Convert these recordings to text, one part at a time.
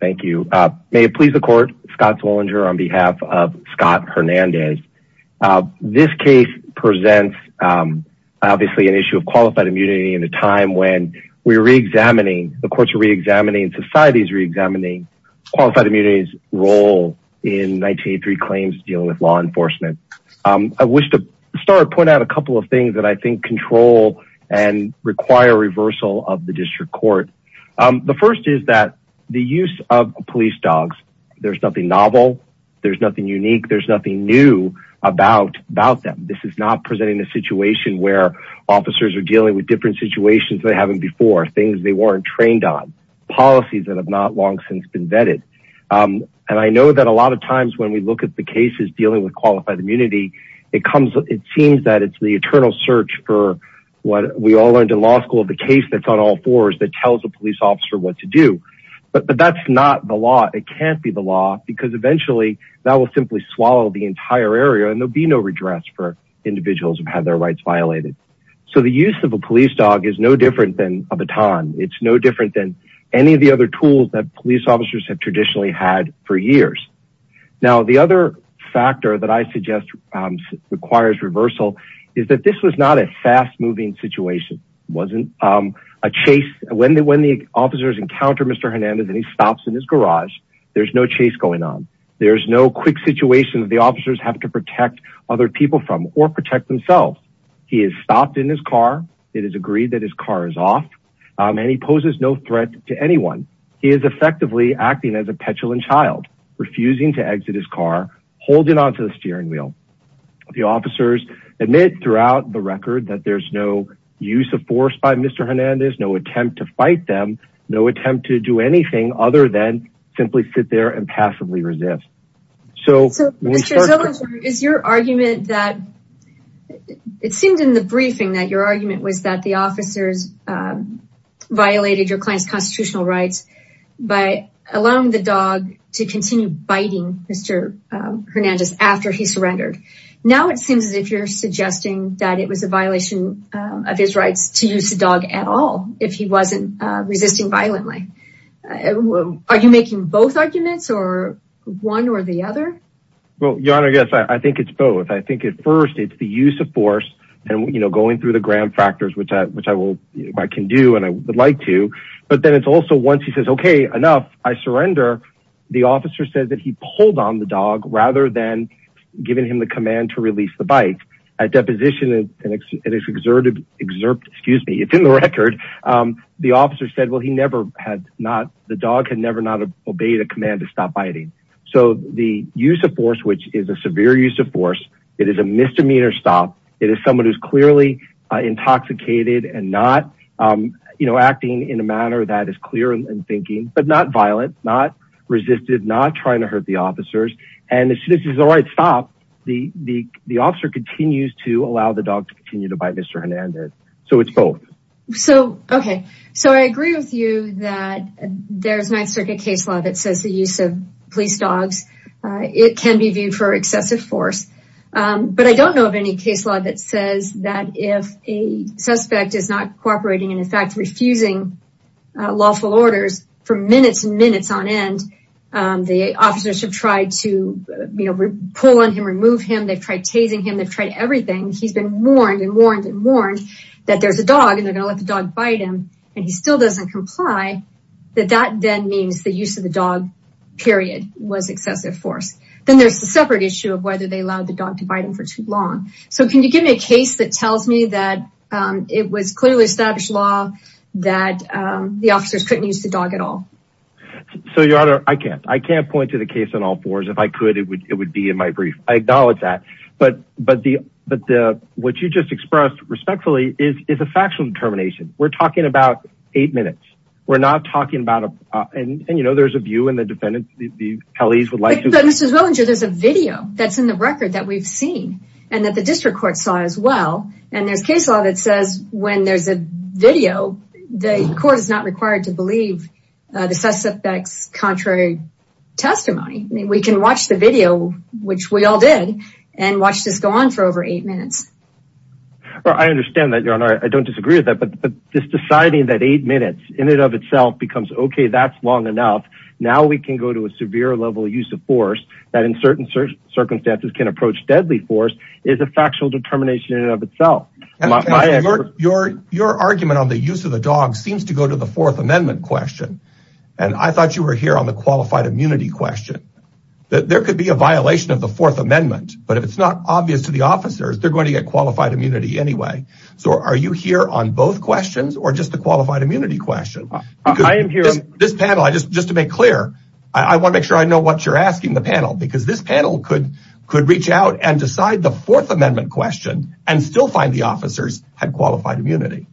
Thank you. May it please the court. Scott Zwollinger on behalf of Scott Hernandez. This case presents obviously an issue of qualified immunity in a time when we're re-examining, the courts are re-examining, societies re-examining qualified immunity's role in 1983 claims dealing with law enforcement. I wish to start point out a couple of things that I think control and require reversal of the district court. The first is that the use of police dogs, there's nothing novel, there's nothing unique, there's nothing new about about them. This is not presenting a situation where officers are dealing with different situations they haven't before, things they weren't trained on, policies that have not long since been vetted. And I know that a lot of times when we look at the cases dealing with qualified immunity, it comes, it seems that it's the eternal search for what we all learned in law school, the case that's on all fours that tells a police officer what to do. But that's not the law, it can't be the law because eventually that will simply swallow the entire area and there'll be no redress for individuals who have their rights violated. So the use of a police dog is no different than a baton, it's no different than any of the other tools that police officers have traditionally had for years. Now the other factor that I suggest requires reversal is that this was not a fast-moving situation. It wasn't a chase. When the officers encounter Mr. Hernandez and he stops in his garage, there's no chase going on. There's no quick situation the officers have to protect other people from or protect themselves. He is stopped in his car, it is agreed that his car is off, and he poses no threat to anyone. He is effectively acting as a petulant child, refusing to exit his car, holding onto the steering wheel. The officers admit throughout the record that there's no use of force by Mr. Hernandez, no attempt to fight them, no attempt to do anything other than simply sit there and passively resist. So is your argument that it seemed in the briefing that your argument was that the officers violated your client's constitutional rights by allowing the dog to continue biting Mr. Hernandez after he surrendered? Now it seems as if you're suggesting that it was a violation of his rights to use the dog at all if he wasn't resisting violently. Are you making both arguments or one or the other? Well, your honor, yes, I think it's both. I think at first it's the use of force and, you know, going through the gram factors, which I can do and I would like to, but then it's also once he says, okay, enough, I surrender, the officer says that he holds on the dog rather than giving him the command to release the bike. At deposition, it is exerted, excerpt, excuse me, it's in the record, the officer said well he never had not, the dog had never not obeyed a command to stop biting. So the use of force, which is a severe use of force, it is a misdemeanor stop, it is someone who's clearly intoxicated and not, you know, acting in a manner that is clear in thinking, but not violent, not resisted, not trying to hurt the officers, and this is the right stop, the officer continues to allow the dog to continue to bite Mr. Hernandez, so it's both. So, okay, so I agree with you that there's Ninth Circuit case law that says the use of police dogs, it can be viewed for excessive force, but I don't know of any case law that says that if a suspect is not cooperating and in fact refusing lawful orders for minutes and minutes on end, the officers have tried to, you know, pull on him, remove him, they've tried tasing him, they've tried everything, he's been warned and warned and warned that there's a dog and they're gonna let the dog bite him, and he still doesn't comply, that that then means the use of the dog, period, was excessive force. Then there's the separate issue of whether they allowed the dog to bite him for too long. So, can you give me a case that tells me that it was clearly established law that the officers couldn't use the dog at all? So, your honor, I can't. I can't point to the case on all fours. If I could, it would be in my brief. I acknowledge that, but what you just expressed respectfully is a factual determination. We're talking about eight minutes. We're not talking about, and you know, there's a view and the defendants, the police would like to... But, Mr. Zwillinger, there's a video that's in the record that we've seen and that the district court saw as well, and there's case law that says when there's a video, the court is not required to believe the suspect's contrary testimony. I mean, we can watch the video, which we all did, and watch this go on for over eight minutes. Well, I understand that, your honor. I don't disagree with that, but this deciding that eight minutes in and of itself becomes, okay, that's long enough. Now we can go to a severe level of use of force, that in certain circumstances can approach deadly force, is a factual determination in and of itself. Your argument on the use of the dog seems to go to the Fourth Amendment question, and I thought you were here on the qualified immunity question. There could be a violation of the Fourth Amendment, but if it's not obvious to the officers, they're going to get qualified immunity anyway. So, are you here on both questions or just the qualified immunity question? Because this panel, just to make clear, I want to make sure I know what you're asking the panel, because this panel could reach out and decide the Fourth Amendment question, and still find the officers had qualified immunity.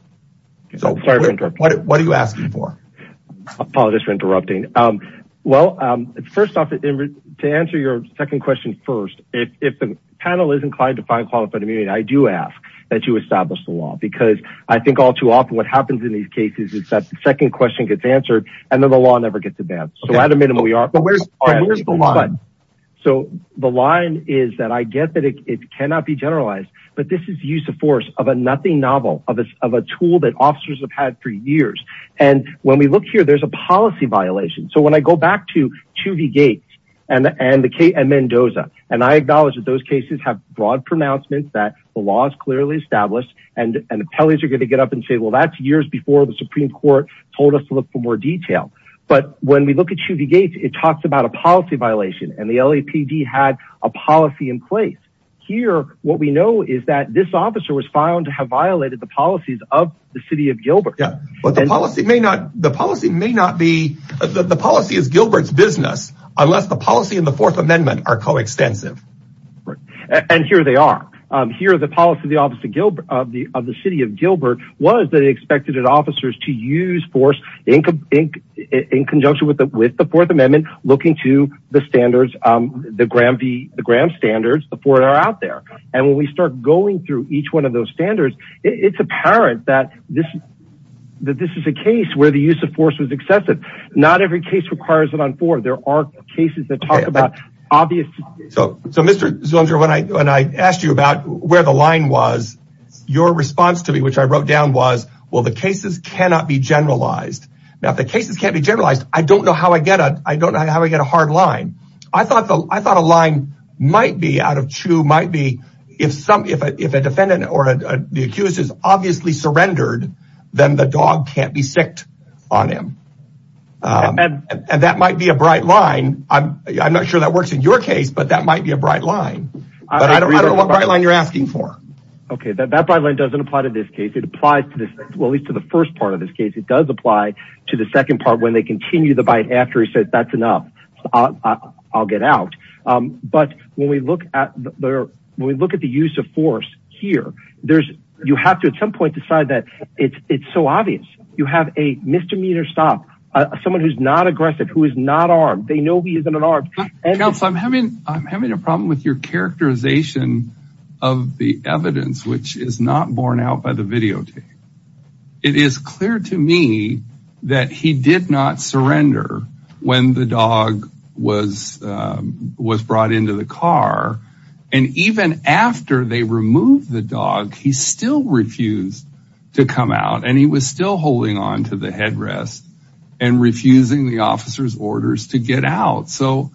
So, what are you asking for? Apologies for interrupting. Well, first off, to answer your second question first, if the panel is inclined to find qualified immunity, I do ask that you establish the law, because I think all too often what happens in these cases is that the second question gets answered, and then the law never gets advanced. So, at a minimum, we are. But where's the line? So, the line is that I get that it cannot be generalized, but this is the use of force of a nothing novel, of a tool that officers have had for years. And when we look here, there's a policy violation. So, when I go back to Tovey Gates and Mendoza, and I acknowledge that those cases have broad pronouncements, that the law is clearly established, and appellees are going to get up and say, that's years before the Supreme Court told us to look for more detail. But when we look at Tovey Gates, it talks about a policy violation, and the LAPD had a policy in place. Here, what we know is that this officer was found to have violated the policies of the City of Gilbert. The policy is Gilbert's business, unless the policy and the Fourth Amendment are coextensive. Right. And here they are. Here, the policy of the City of Gilbert was that it expected officers to use force in conjunction with the Fourth Amendment, looking to the standards, the GRAM standards, the four that are out there. And when we start going through each one of those standards, it's apparent that this is a case where the use of force was excessive. Not every case requires it on four. There are cases that talk about obvious... So, Mr. Zunzer, when I asked you about where the line was, your response to me, which I wrote down, was, well, the cases cannot be generalized. Now, if the cases can't be generalized, I don't know how I get a hard line. I thought a line might be out of two, might be if a defendant or the accused is obviously surrendered, then the dog can't be sicked on him. And that might be a bright line. I'm not sure that works in your case, but that might be a bright line. But I don't know what line you're asking for. Okay. That bright line doesn't apply to this case. It applies to this, at least to the first part of this case. It does apply to the second part when they continue the bite after he says, that's enough. I'll get out. But when we look at the use of force here, there's, you have to, at some point, decide that it's so obvious. You have a misdemeanor stop, someone who's not aggressive, who is not armed. They know he isn't armed. Counsel, I'm having a problem with your characterization of the evidence, which is not borne out by the videotape. It is clear to me that he did not surrender when the dog was brought into the car. And even after they removed the dog, he still refused to come out. And he was still holding on to the headrest and refusing the officer's orders to get out. So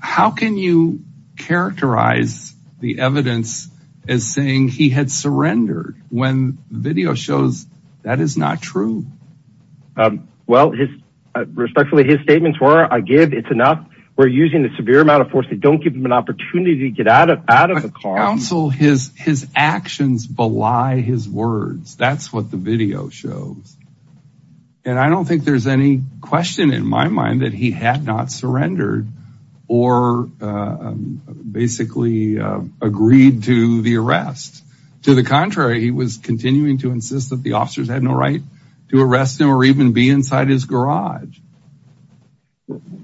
how can you characterize the evidence as saying he had surrendered when the video shows that is not true? Well, respectfully, his statements were, I give, it's enough. We're using a severe amount of force. They don't give him an opportunity to get out of the car. Counsel, his actions belie his words. That's what the video shows. And I don't think there's any question in my mind that he had not surrendered or basically agreed to the arrest. To the contrary, he was continuing to insist that the officers had no right to arrest him or even be inside his garage.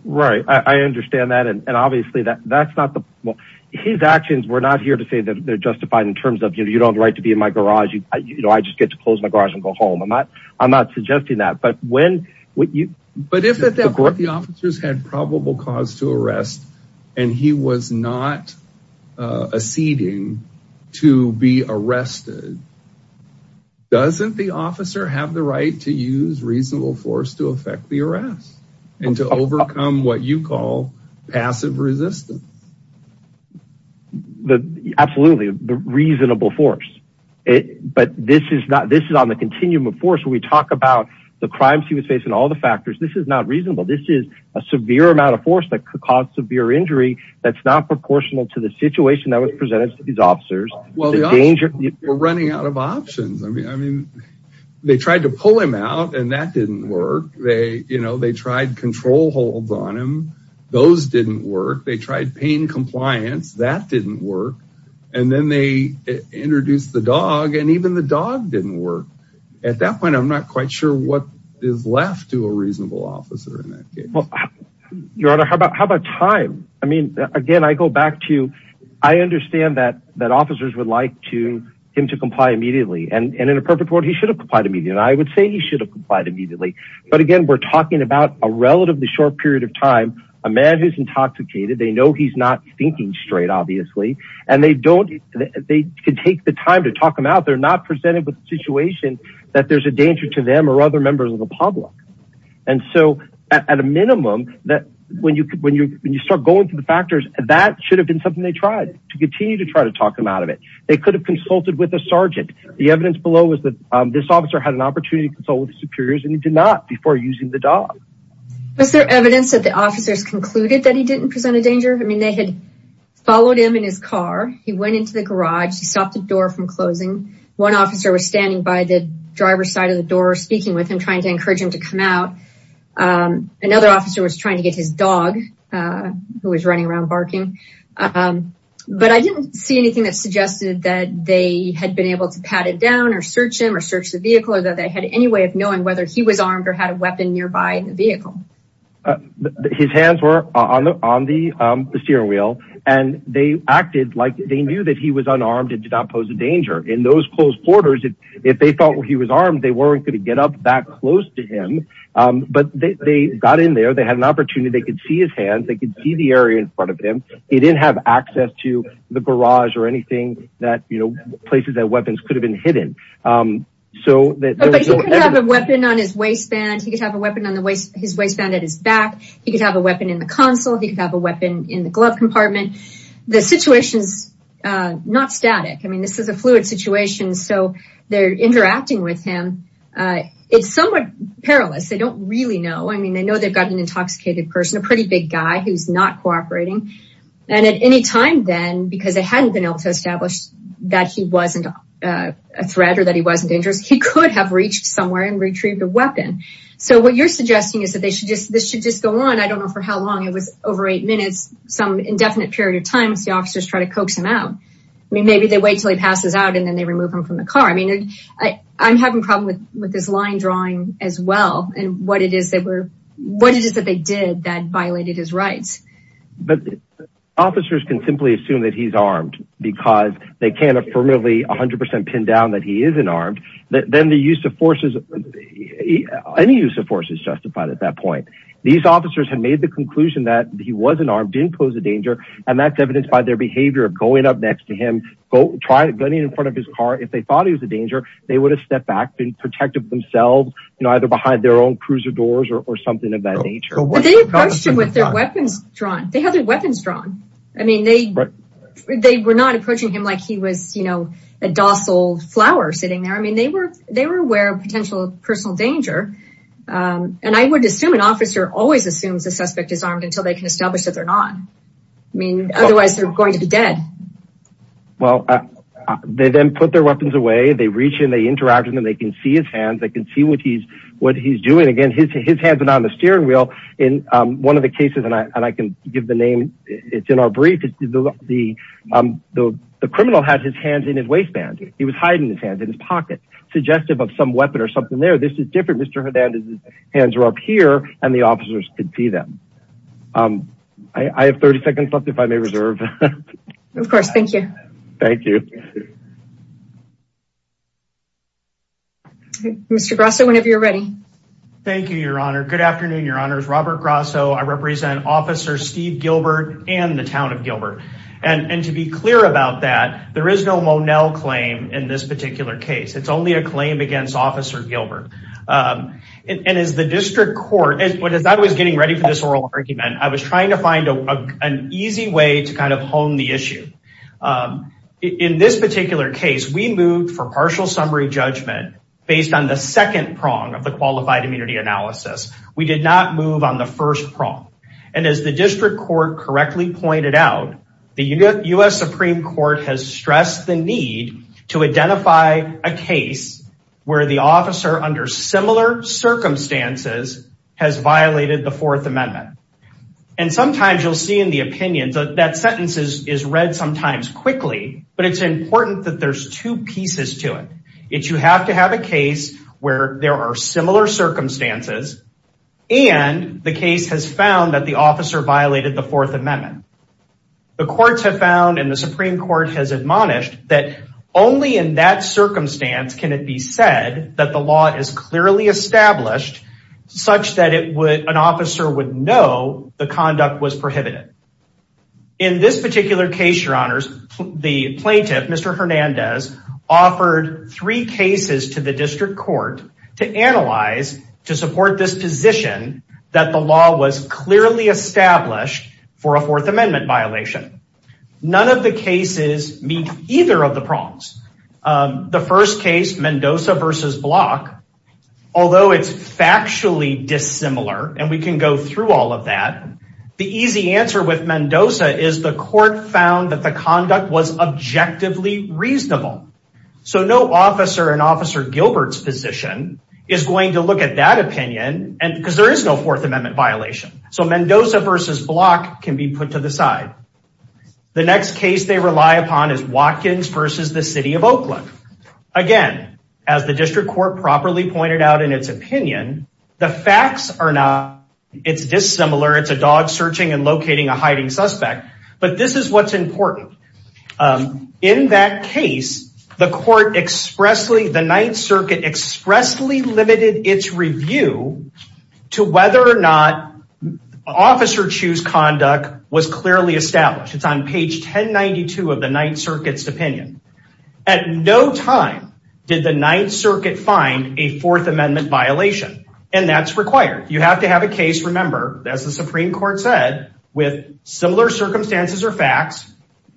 Right. I understand that. And obviously that's not the, well, his actions were not here to say that they're justified in terms of, you know, you don't have the right to be in my garage. You know, I just get to close my garage and go home. I'm not, I'm not suggesting that. But when, But if at that point the officers had probable cause to arrest and he was not acceding to be and to overcome what you call passive resistance. Absolutely. The reasonable force. But this is not, this is on the continuum of force. We talk about the crimes he was facing, all the factors. This is not reasonable. This is a severe amount of force that could cause severe injury. That's not proportional to the situation that was presented to these officers. Well, the danger, we're running out of options. I mean, I mean, they tried to pull him out and that didn't work. They, you know, they tried control holds on him. Those didn't work. They tried pain compliance. That didn't work. And then they introduced the dog and even the dog didn't work at that point. I'm not quite sure what is left to a reasonable officer in that case. Your Honor, how about, how about time? I mean, again, I go back to, I understand that, that officers would like to him to comply immediately. And in a perfect world, he should have complied immediately. And I would say he should have complied immediately. But again, we're talking about a relatively short period of time. A man who's intoxicated, they know he's not thinking straight, obviously. And they don't, they could take the time to talk him out. They're not presented with the situation that there's a danger to them or other members of the public. And so at a minimum that when you, when you, when you start going through the factors, that should have been something they tried to continue to try to talk him out of it. They could have consulted with a sergeant. The evidence below was that this officer had an opportunity to consult with the superiors and he did not before using the dog. Was there evidence that the officers concluded that he didn't present a danger? I mean, they had followed him in his car. He went into the garage. He stopped the door from closing. One officer was standing by the driver's side of the door, speaking with him, trying to encourage him to come out. Another officer was trying to get his dog who was running around barking. Um, but I didn't see anything that suggested that they had been able to pat it down or search him or search the vehicle or that they had any way of knowing whether he was armed or had a weapon nearby in the vehicle. Uh, his hands were on the, on the, um, the steering wheel and they acted like they knew that he was unarmed and did not pose a danger in those close quarters. If they thought he was armed, they weren't going to get up that close to him. Um, but they got in there. They had an opportunity. They could see his hands. They could see the area in front of him. He didn't have access to the garage or anything that, you know, places that weapons could have been hidden. Um, so that he could have a weapon on his waistband. He could have a weapon on the waist, his waistband at his back. He could have a weapon in the console. He could have a weapon in the glove compartment. The situation's, uh, not static. I mean, this is a fluid situation. So they're interacting with him. Uh, it's somewhat perilous. They don't really know. I mean, they know they've got an intoxicated person, a pretty big guy who's not cooperating. And at any time then, because they hadn't been able to establish that he wasn't a threat or that he wasn't dangerous, he could have reached somewhere and retrieved a weapon. So what you're suggesting is that they should just, this should just go on. I don't know for how long it was over eight minutes, some indefinite period of time. The officers try to coax him out. I mean, maybe they wait until he passes out and then they remove him from the car. I mean, I I'm having problem with, with this line drawing as well and what it is that we're, what it is that they did that violated his rights. But officers can simply assume that he's armed because they can't affirmatively a hundred percent pin down that he isn't armed. Then the use of forces, any use of forces justified at that point, these officers had made the conclusion that he wasn't armed, didn't pose a danger. And that's evidenced by their behavior of going up next to him, trying to gun him in front of his car. If they thought he was a danger, they would have stepped back and protected themselves, you know, either behind their own cruiser doors or something of that nature. They approached him with their weapons drawn. They had their weapons drawn. I mean, they, they were not approaching him like he was, you know, a docile flower sitting there. I mean, they were, they were aware of potential personal danger. And I would assume an officer always assumes the suspect is armed until they can establish that they're not. I mean, otherwise they're going to be dead. Well, they then put their weapons away. They reach in, they interact with them. They can see his hands. They can see what he's, what he's doing. Again, his, his hands are not on the steering wheel in one of the cases. And I, and I can give the name it's in our brief. The, the, the criminal had his hands in his waistband. He was hiding his hands in his pocket, suggestive of some weapon or something there. This is different. Mr. Hernandez's hands are up here and the officers could see them. I have 30 seconds left if I may reserve. Of course. Thank you. Thank you. Mr. Grasso whenever you're ready. Thank you, your honor. Good afternoon, your honors. Robert Grasso. I represent officer Steve Gilbert and the town of Gilbert. And to be clear about that, there is no Monell claim in this particular case. It's only a claim against officer Gilbert. And as the district court, as I was getting ready for this oral argument, I was trying to find an easy way to kind of hone the issue. In this particular case, we moved for partial summary judgment based on the second prong of the qualified immunity analysis. We did not move on the first prong. And as the district court correctly pointed out, the US Supreme court has stressed the need to identify a case where the officer under similar circumstances has violated the fourth amendment. And sometimes you'll see in the opinions that sentence is read sometimes quickly, but it's important that there's two pieces to it. You have to have a case where there are similar circumstances and the case has found that the officer violated the fourth amendment. The courts have found and the Supreme court has admonished that only in that circumstance can it be said that the law is clearly established such that an officer would know the conduct was prohibited. In this particular case, your honors, the plaintiff, Mr. Hernandez, offered three cases to the district court to analyze, to support this position that the law was clearly established for a fourth amendment violation. None of the cases meet either of the prongs. The first case, Mendoza versus Block, although it's factually dissimilar and we can go through all of that, the easy answer with Mendoza is the court found that the conduct was objectively reasonable. So no officer in officer Gilbert's position is going to look at that opinion because there is no fourth amendment violation. So Mendoza versus Block can be put to the side. The next case they rely upon is Watkins versus the city of Oakland. Again, as the district court properly pointed out in its opinion, the facts are not, it's dissimilar, it's a dog searching and locating a hiding suspect, but this is what's important. In that case, the court expressly, the ninth circuit expressly limited its review to whether or not officer choose conduct was clearly established. It's on page 1092 of the ninth circuit's opinion. At no time did the ninth circuit find a fourth amendment violation and that's required. You have to have a case, remember, as the Supreme Court said, with similar circumstances or facts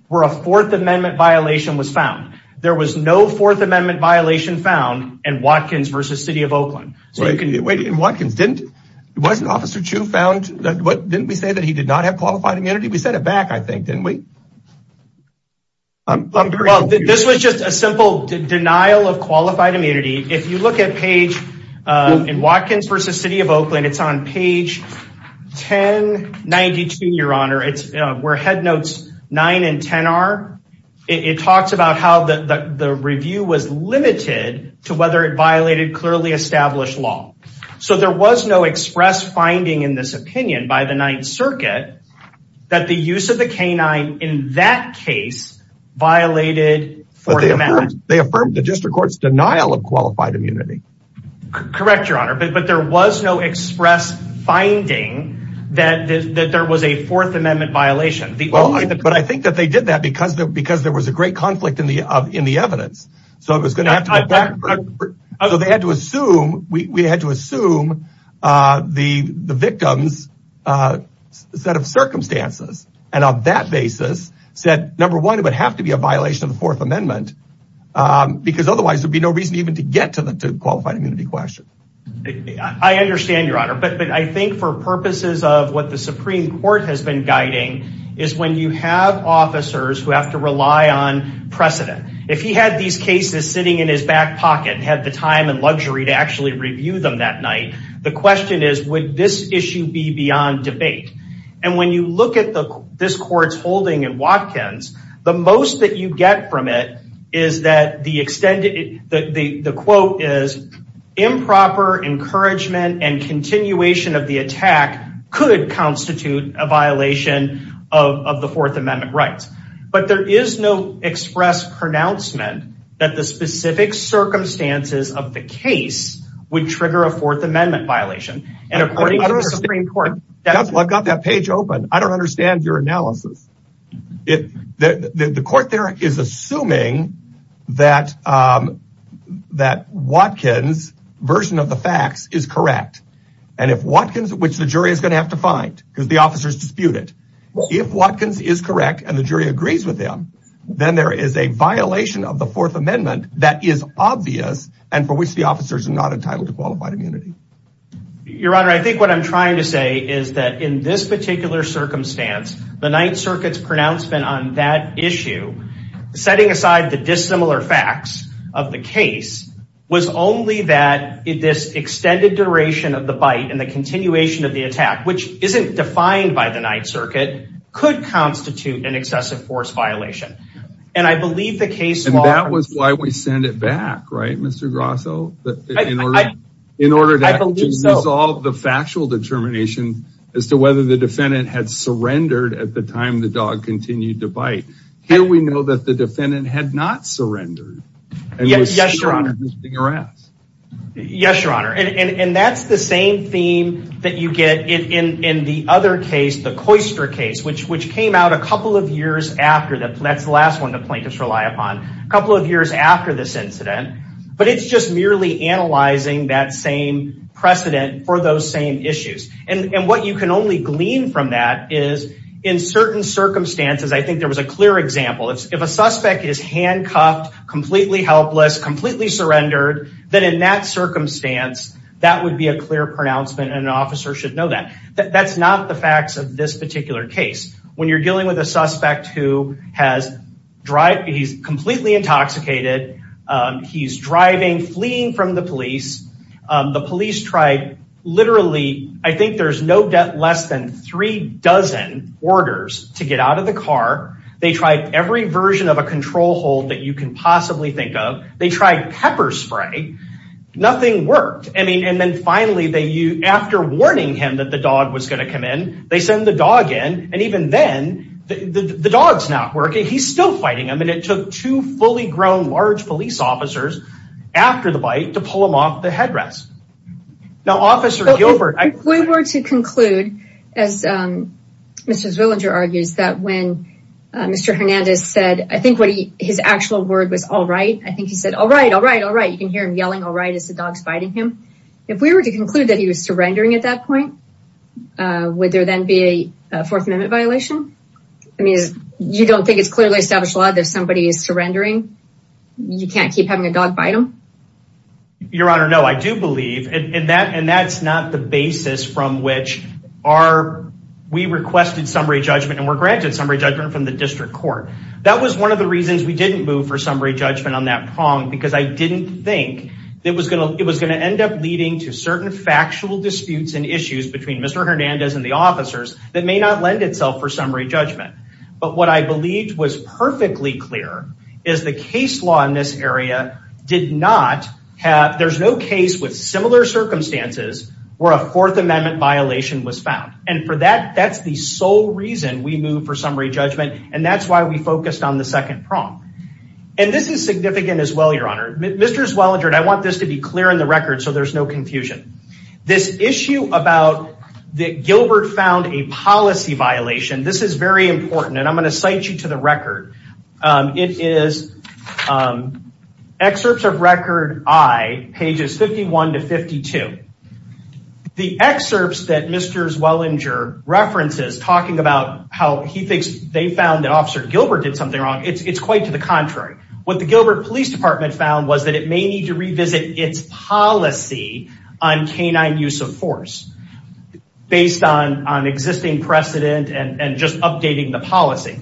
where a fourth amendment violation was found. There was no fourth amendment violation found in Watkins versus city of Oakland. Wait, in Watkins, wasn't officer Chu found, didn't we say that he did not have qualified immunity? We said it back, I think, didn't we? This was just a simple denial of qualified immunity. If you look at page in Watkins versus city of Oakland, it's on page 1092, your honor, it's where head notes nine and 10 are. It talks about how the review was limited to whether it violated clearly established law. There was no express finding in this opinion by the ninth circuit that the use of the canine in that case violated. They affirmed the district court's denial of qualified immunity. Correct, your honor, but there was no express finding that there was a fourth amendment violation. I think that they did that because there was a conflict in the evidence. They had to assume, we had to assume the victim's set of circumstances and on that basis said, number one, it would have to be a violation of the fourth amendment because otherwise there'd be no reason even to get to the qualified immunity question. I understand your honor, but I think for purposes of what the Supreme Court has been guiding is when you have officers who have to rely on precedent. If he had these cases sitting in his back pocket and had the time and luxury to actually review them that night, the question is, would this issue be beyond debate? When you look at this court's holding in Watkins, the most that you get from it is that the quote is improper encouragement and of the fourth amendment rights, but there is no express pronouncement that the specific circumstances of the case would trigger a fourth amendment violation and according to the Supreme Court. I've got that page open. I don't understand your analysis. The court there is assuming that Watkins version of the facts is correct and if Watkins, which the jury is going to have to if Watkins is correct and the jury agrees with them, then there is a violation of the fourth amendment that is obvious and for which the officers are not entitled to qualified immunity. Your honor, I think what I'm trying to say is that in this particular circumstance, the ninth circuit's pronouncement on that issue, setting aside the dissimilar facts of the case was only that this extended duration of the bite and the continuation of the attack, which isn't defined by the ninth circuit, could constitute an excessive force violation and I believe the case... And that was why we sent it back, right Mr. Grosso? In order to resolve the factual determination as to whether the defendant had surrendered at the time the dog continued to bite. Here we know that the defendant had not surrendered. Yes, your honor. And that's the same theme that you get in the other case, the Coyster case, which came out a couple of years after, that's the last one the plaintiffs rely upon, a couple of years after this incident, but it's just merely analyzing that same precedent for those same issues. And what you can only glean from that is in certain circumstances, I think there was a clear example, if a suspect is handcuffed, completely helpless, completely surrendered, then in that circumstance, that would be a clear pronouncement and an officer should know that. That's not the facts of this particular case. When you're dealing with a suspect who has... He's completely intoxicated. He's driving, fleeing from the police. The police tried literally, I think there's no less than three dozen orders to get out of the car. They tried every version of a control hold that you can possibly think of. They tried pepper spray, nothing worked. I mean, and then finally, after warning him that the dog was going to come in, they send the dog in. And even then, the dog's not working. He's still fighting him. And it took two fully grown, large police officers after the bite to pull him off the headrest. Now, Officer Gilbert... As Mr. Zwillinger argues that when Mr. Hernandez said, I think his actual word was, all right. I think he said, all right, all right, all right. You can hear him yelling, all right, as the dog's biting him. If we were to conclude that he was surrendering at that point, would there then be a Fourth Amendment violation? I mean, you don't think it's clearly established law that if somebody is surrendering, you can't keep having a dog bite him? Your Honor, no, I do believe. And that's not the basis from which we requested summary judgment. And we're granted summary judgment from the district court. That was one of the reasons we didn't move for summary judgment on that prong, because I didn't think it was going to end up leading to certain factual disputes and issues between Mr. Hernandez and the officers that may not lend itself for summary judgment. But what I believed was perfectly clear is the case law in this area did not have... There's no case with similar circumstances where a Fourth Amendment violation was found. And for that, that's the sole reason we moved for summary judgment. And that's why we focused on the second prong. And this is significant as well, Your Honor. Mr. Zwillinger, I want this to be clear in the record, so there's no confusion. This issue about that Gilbert found a policy violation, this is very important. And I'm going to cite you to the record. It is excerpts of record I, pages 51 to 52. The excerpts that Mr. Zwillinger references talking about how he thinks they found that Officer Gilbert did something wrong, it's quite to the contrary. What the Gilbert Police Department found was that it may need to revisit its policy on canine use of force based on existing precedent and just updating the policy.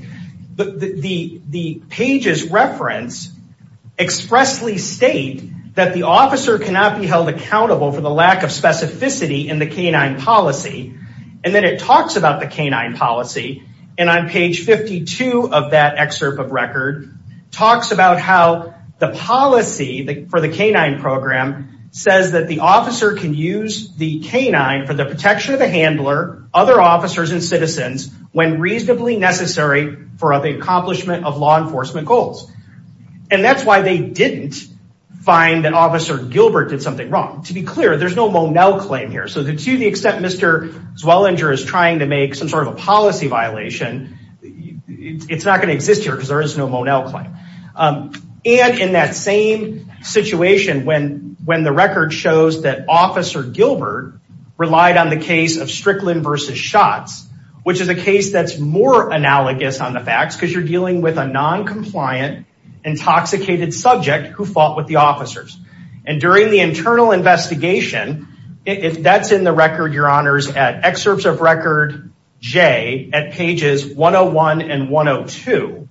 The pages reference expressly state that the officer cannot be held accountable for the lack of specificity in the canine policy. And then it talks about the canine policy. And on page 52 of that excerpt of record, talks about how the policy for the canine program says that the officer can use the canine for the protection of the handler, other officers and citizens when reasonably necessary for the accomplishment of law enforcement goals. And that's why they didn't find that Officer Gilbert did something wrong. To be clear, there's no Monell claim here. So to the extent Mr. Zwillinger is trying to make some sort of a policy violation, it's not going to exist here because there is no Monell claim. And in that same situation, when the record shows that Officer Gilbert relied on the case of Strickland v. Schatz, which is a case that's more analogous on the facts because you're dealing with a non-compliant intoxicated subject who fought with the officers. And during the internal investigation, if that's in the record, your honors, at excerpts of record J at pages 101 and 102,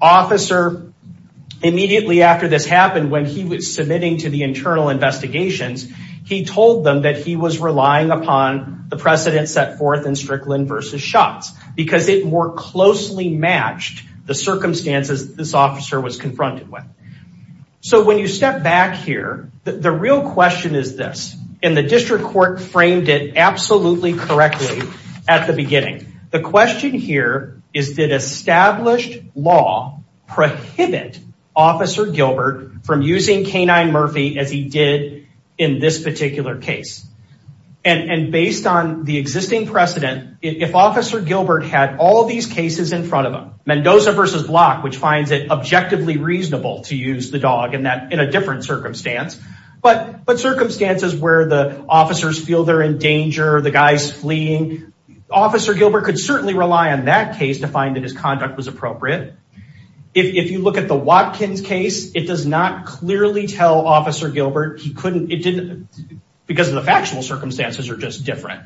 Officer, immediately after this happened, when he was submitting to the internal investigations, he told them that he was relying upon the precedent set forth in Strickland v. Schatz because it more closely matched the circumstances this officer was confronted with. So when you step back here, the real question is this, and the district court framed it absolutely correctly at the beginning. The question here is, did established law prohibit Officer Gilbert from using K-9 Murphy as he did in this particular case? And based on the existing precedent, if Officer Gilbert had all these cases in front of him, Mendoza v. Block, which finds it objectively reasonable to use the dog in a different circumstance, but circumstances where the Officer Gilbert could certainly rely on that case to find that his conduct was appropriate. If you look at the Watkins case, it does not clearly tell Officer Gilbert he couldn't, it didn't, because of the factual circumstances are just different.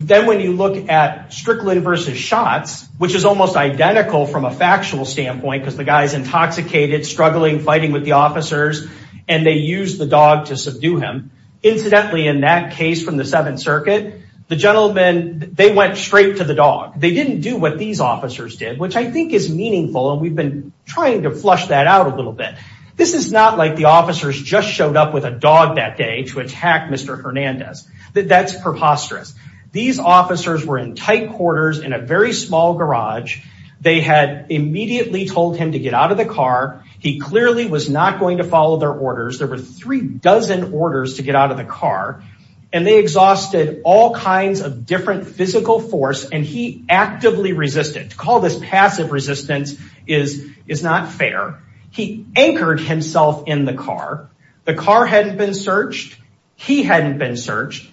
Then when you look at Strickland v. Schatz, which is almost identical from a factual standpoint because the guy's intoxicated, struggling, fighting with the officers, and they use the dog to subdue him. Incidentally, in that case from the they went straight to the dog. They didn't do what these officers did, which I think is meaningful, and we've been trying to flush that out a little bit. This is not like the officers just showed up with a dog that day to attack Mr. Hernandez. That's preposterous. These officers were in tight quarters in a very small garage. They had immediately told him to get out of the car. He clearly was not going to follow their orders. There were three dozen orders to get out of the different physical force, and he actively resisted. To call this passive resistance is not fair. He anchored himself in the car. The car hadn't been searched. He hadn't been searched.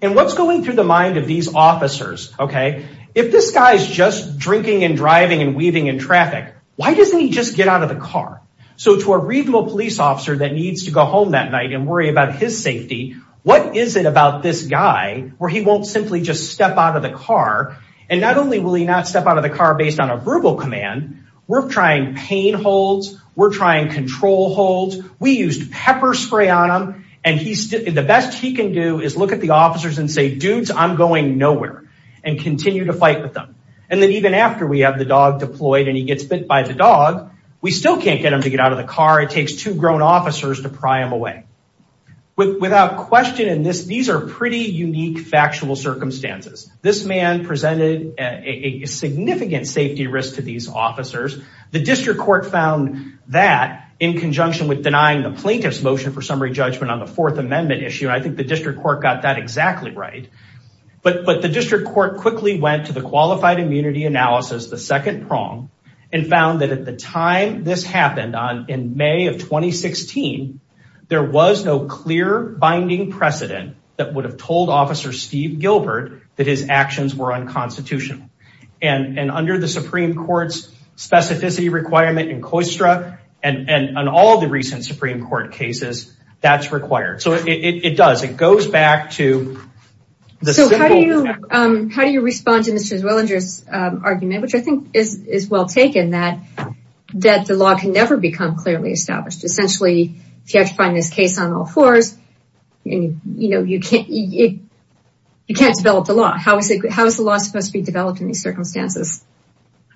What's going through the mind of these officers? If this guy's just drinking and driving and weaving in traffic, why doesn't he just get out of the car? To a reasonable police officer that needs to go home that night and worry about his safety, what is it about this guy where he won't simply just step out of the car? Not only will he not step out of the car based on a verbal command, we're trying pain holds. We're trying control holds. We used pepper spray on him, and the best he can do is look at the officers and say, dudes, I'm going nowhere, and continue to fight with them. Then even after we have the dog deployed and he gets bit by the dog, we still can't get him to get out of the car. It takes two grown officers to pry him away. Without question, these are pretty unique factual circumstances. This man presented a significant safety risk to these officers. The district court found that in conjunction with denying the plaintiff's motion for summary judgment on the Fourth Amendment issue. I think the district court got that exactly right. But the district court quickly went to the qualified immunity analysis, the second prong, and found that at the time this happened in May of 2016, there was no clear binding precedent that would have told officer Steve Gilbert that his actions were unconstitutional. Under the Supreme Court's specificity requirement in COISTRA and all the recent Supreme Court cases, that's required. So it does. It goes back to the simple fact. How do you respond to Mr. Zwillinger's argument, which I think is well taken, that the law can never become clearly established? Essentially, if you have to find this case on all fours, you can't develop the law. How is the law supposed to be developed in these circumstances?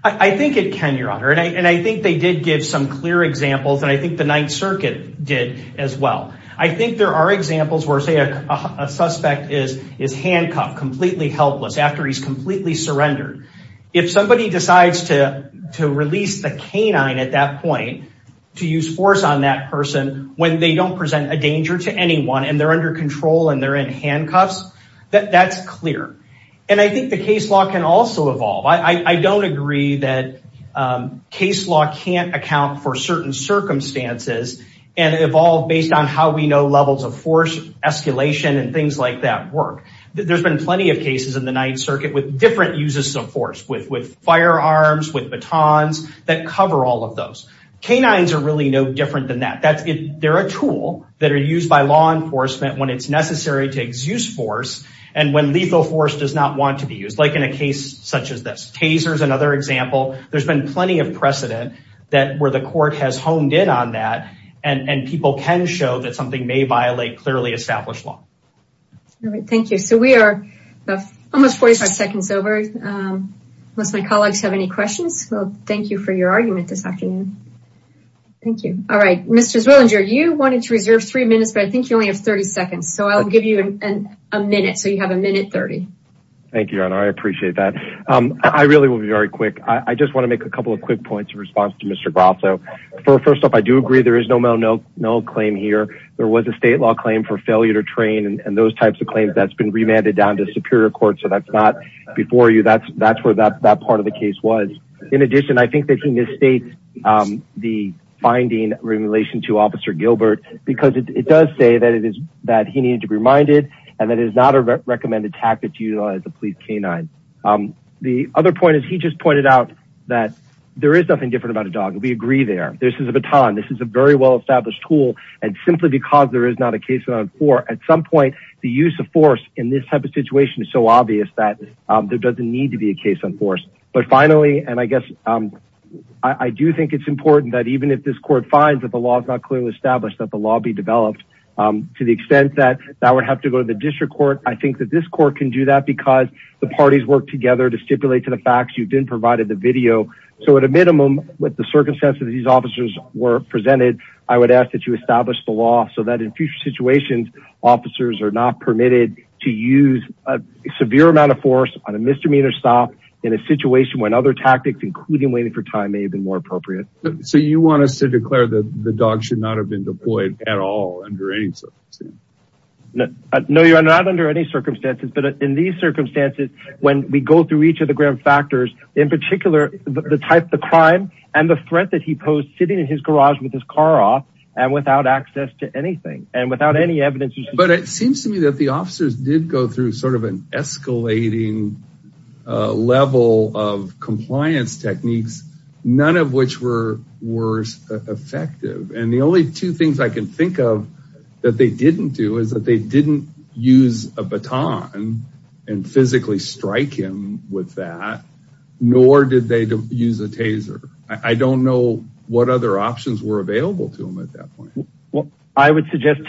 I think it can, Your Honor. I think they did give some clear examples. I think the Ninth Circuit did as well. I think there are examples where, say, a suspect is handcuffed, completely helpless after he's completely surrendered. If somebody decides to release the canine at that point, to use force on that person when they don't present a danger to anyone and they're under control and they're in handcuffs, that's clear. And I think the case law can also evolve. I don't agree that case law can't account for certain circumstances and evolve based on how we know of force escalation and things like that work. There's been plenty of cases in the Ninth Circuit with different uses of force, with firearms, with batons, that cover all of those. Canines are really no different than that. They're a tool that are used by law enforcement when it's necessary to exuse force and when lethal force does not want to be used. Like in a case such as this. Taser's another example. There's been plenty of precedent where the court has honed in on that and people can show that something may violate clearly established law. All right, thank you. So we are almost 45 seconds over, unless my colleagues have any questions. Well, thank you for your argument this afternoon. Thank you. All right, Mr. Zwillinger, you wanted to reserve three minutes, but I think you only have 30 seconds. So I'll give you a minute. So you have a minute 30. Thank you, I appreciate that. I really will be very quick. I just want to make a couple of quick points in response to Mr. Grasso. First off, I do agree there is no mental no no claim here. There was a state law claim for failure to train and those types of claims that's been remanded down to superior court. So that's not before you. That's where that part of the case was. In addition, I think that he misstates the finding in relation to Officer Gilbert, because it does say that it is that he needed to be reminded and that it is not a recommended tactic to utilize the police canine. The other point is he just pointed out that there is nothing different about a dog. We agree there. This is a baton. This is a very well established tool. And simply because there is not a case on for at some point, the use of force in this type of situation is so obvious that there doesn't need to be a case on force. But finally, and I guess I do think it's important that even if this court finds that the law is not clearly established, that the law be developed to the extent that that would have to go to the district court. I think that this court can do that because the parties work together to stipulate to the facts you've been provided the video. So at a minimum, with the circumstances these officers were presented, I would ask that you establish the law so that in future situations, officers are not permitted to use a severe amount of force on a misdemeanor stop in a situation when other tactics, including waiting for time, may have been more appropriate. So you want us to declare that the dog should not have been deployed at all under any circumstance? No, you're not under any circumstances. But in these circumstances, when we go through each of the grim factors, in particular, the type of crime and the threat that he posed sitting in his garage with his car off and without access to anything and without any evidence. But it seems to me that the officers did go through sort of an escalating level of that they didn't do is that they didn't use a baton and physically strike him with that, nor did they use a taser. I don't know what other options were available to him at that point. Well, I would suggest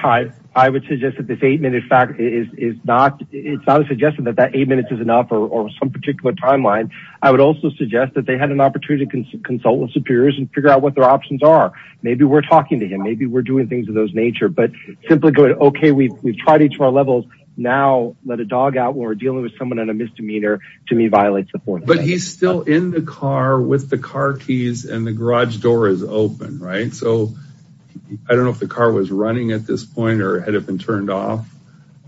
that this eight minute fact is not, it's not a suggestion that that eight minutes is enough or some particular timeline. I would also suggest that they had an opportunity to consult with superiors and figure out what their options are. Maybe we're doing things of those nature, but simply going, okay, we've, we've tried each of our levels. Now, let a dog out when we're dealing with someone on a misdemeanor, to me, violates the fourth. But he's still in the car with the car keys and the garage door is open, right? So I don't know if the car was running at this point or had it been turned off.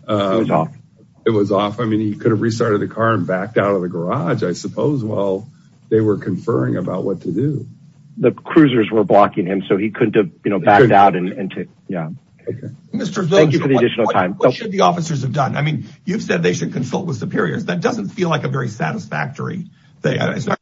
It was off. I mean, he could have restarted the car and backed out of the garage, I suppose. Well, they were conferring about what to do. The cruisers were blocking him so he couldn't have, you know, backed out and to, yeah. Okay. Thank you for the additional time. What should the officers have done? I mean, you've said they should consult with superiors. That doesn't feel like a very satisfactory thing.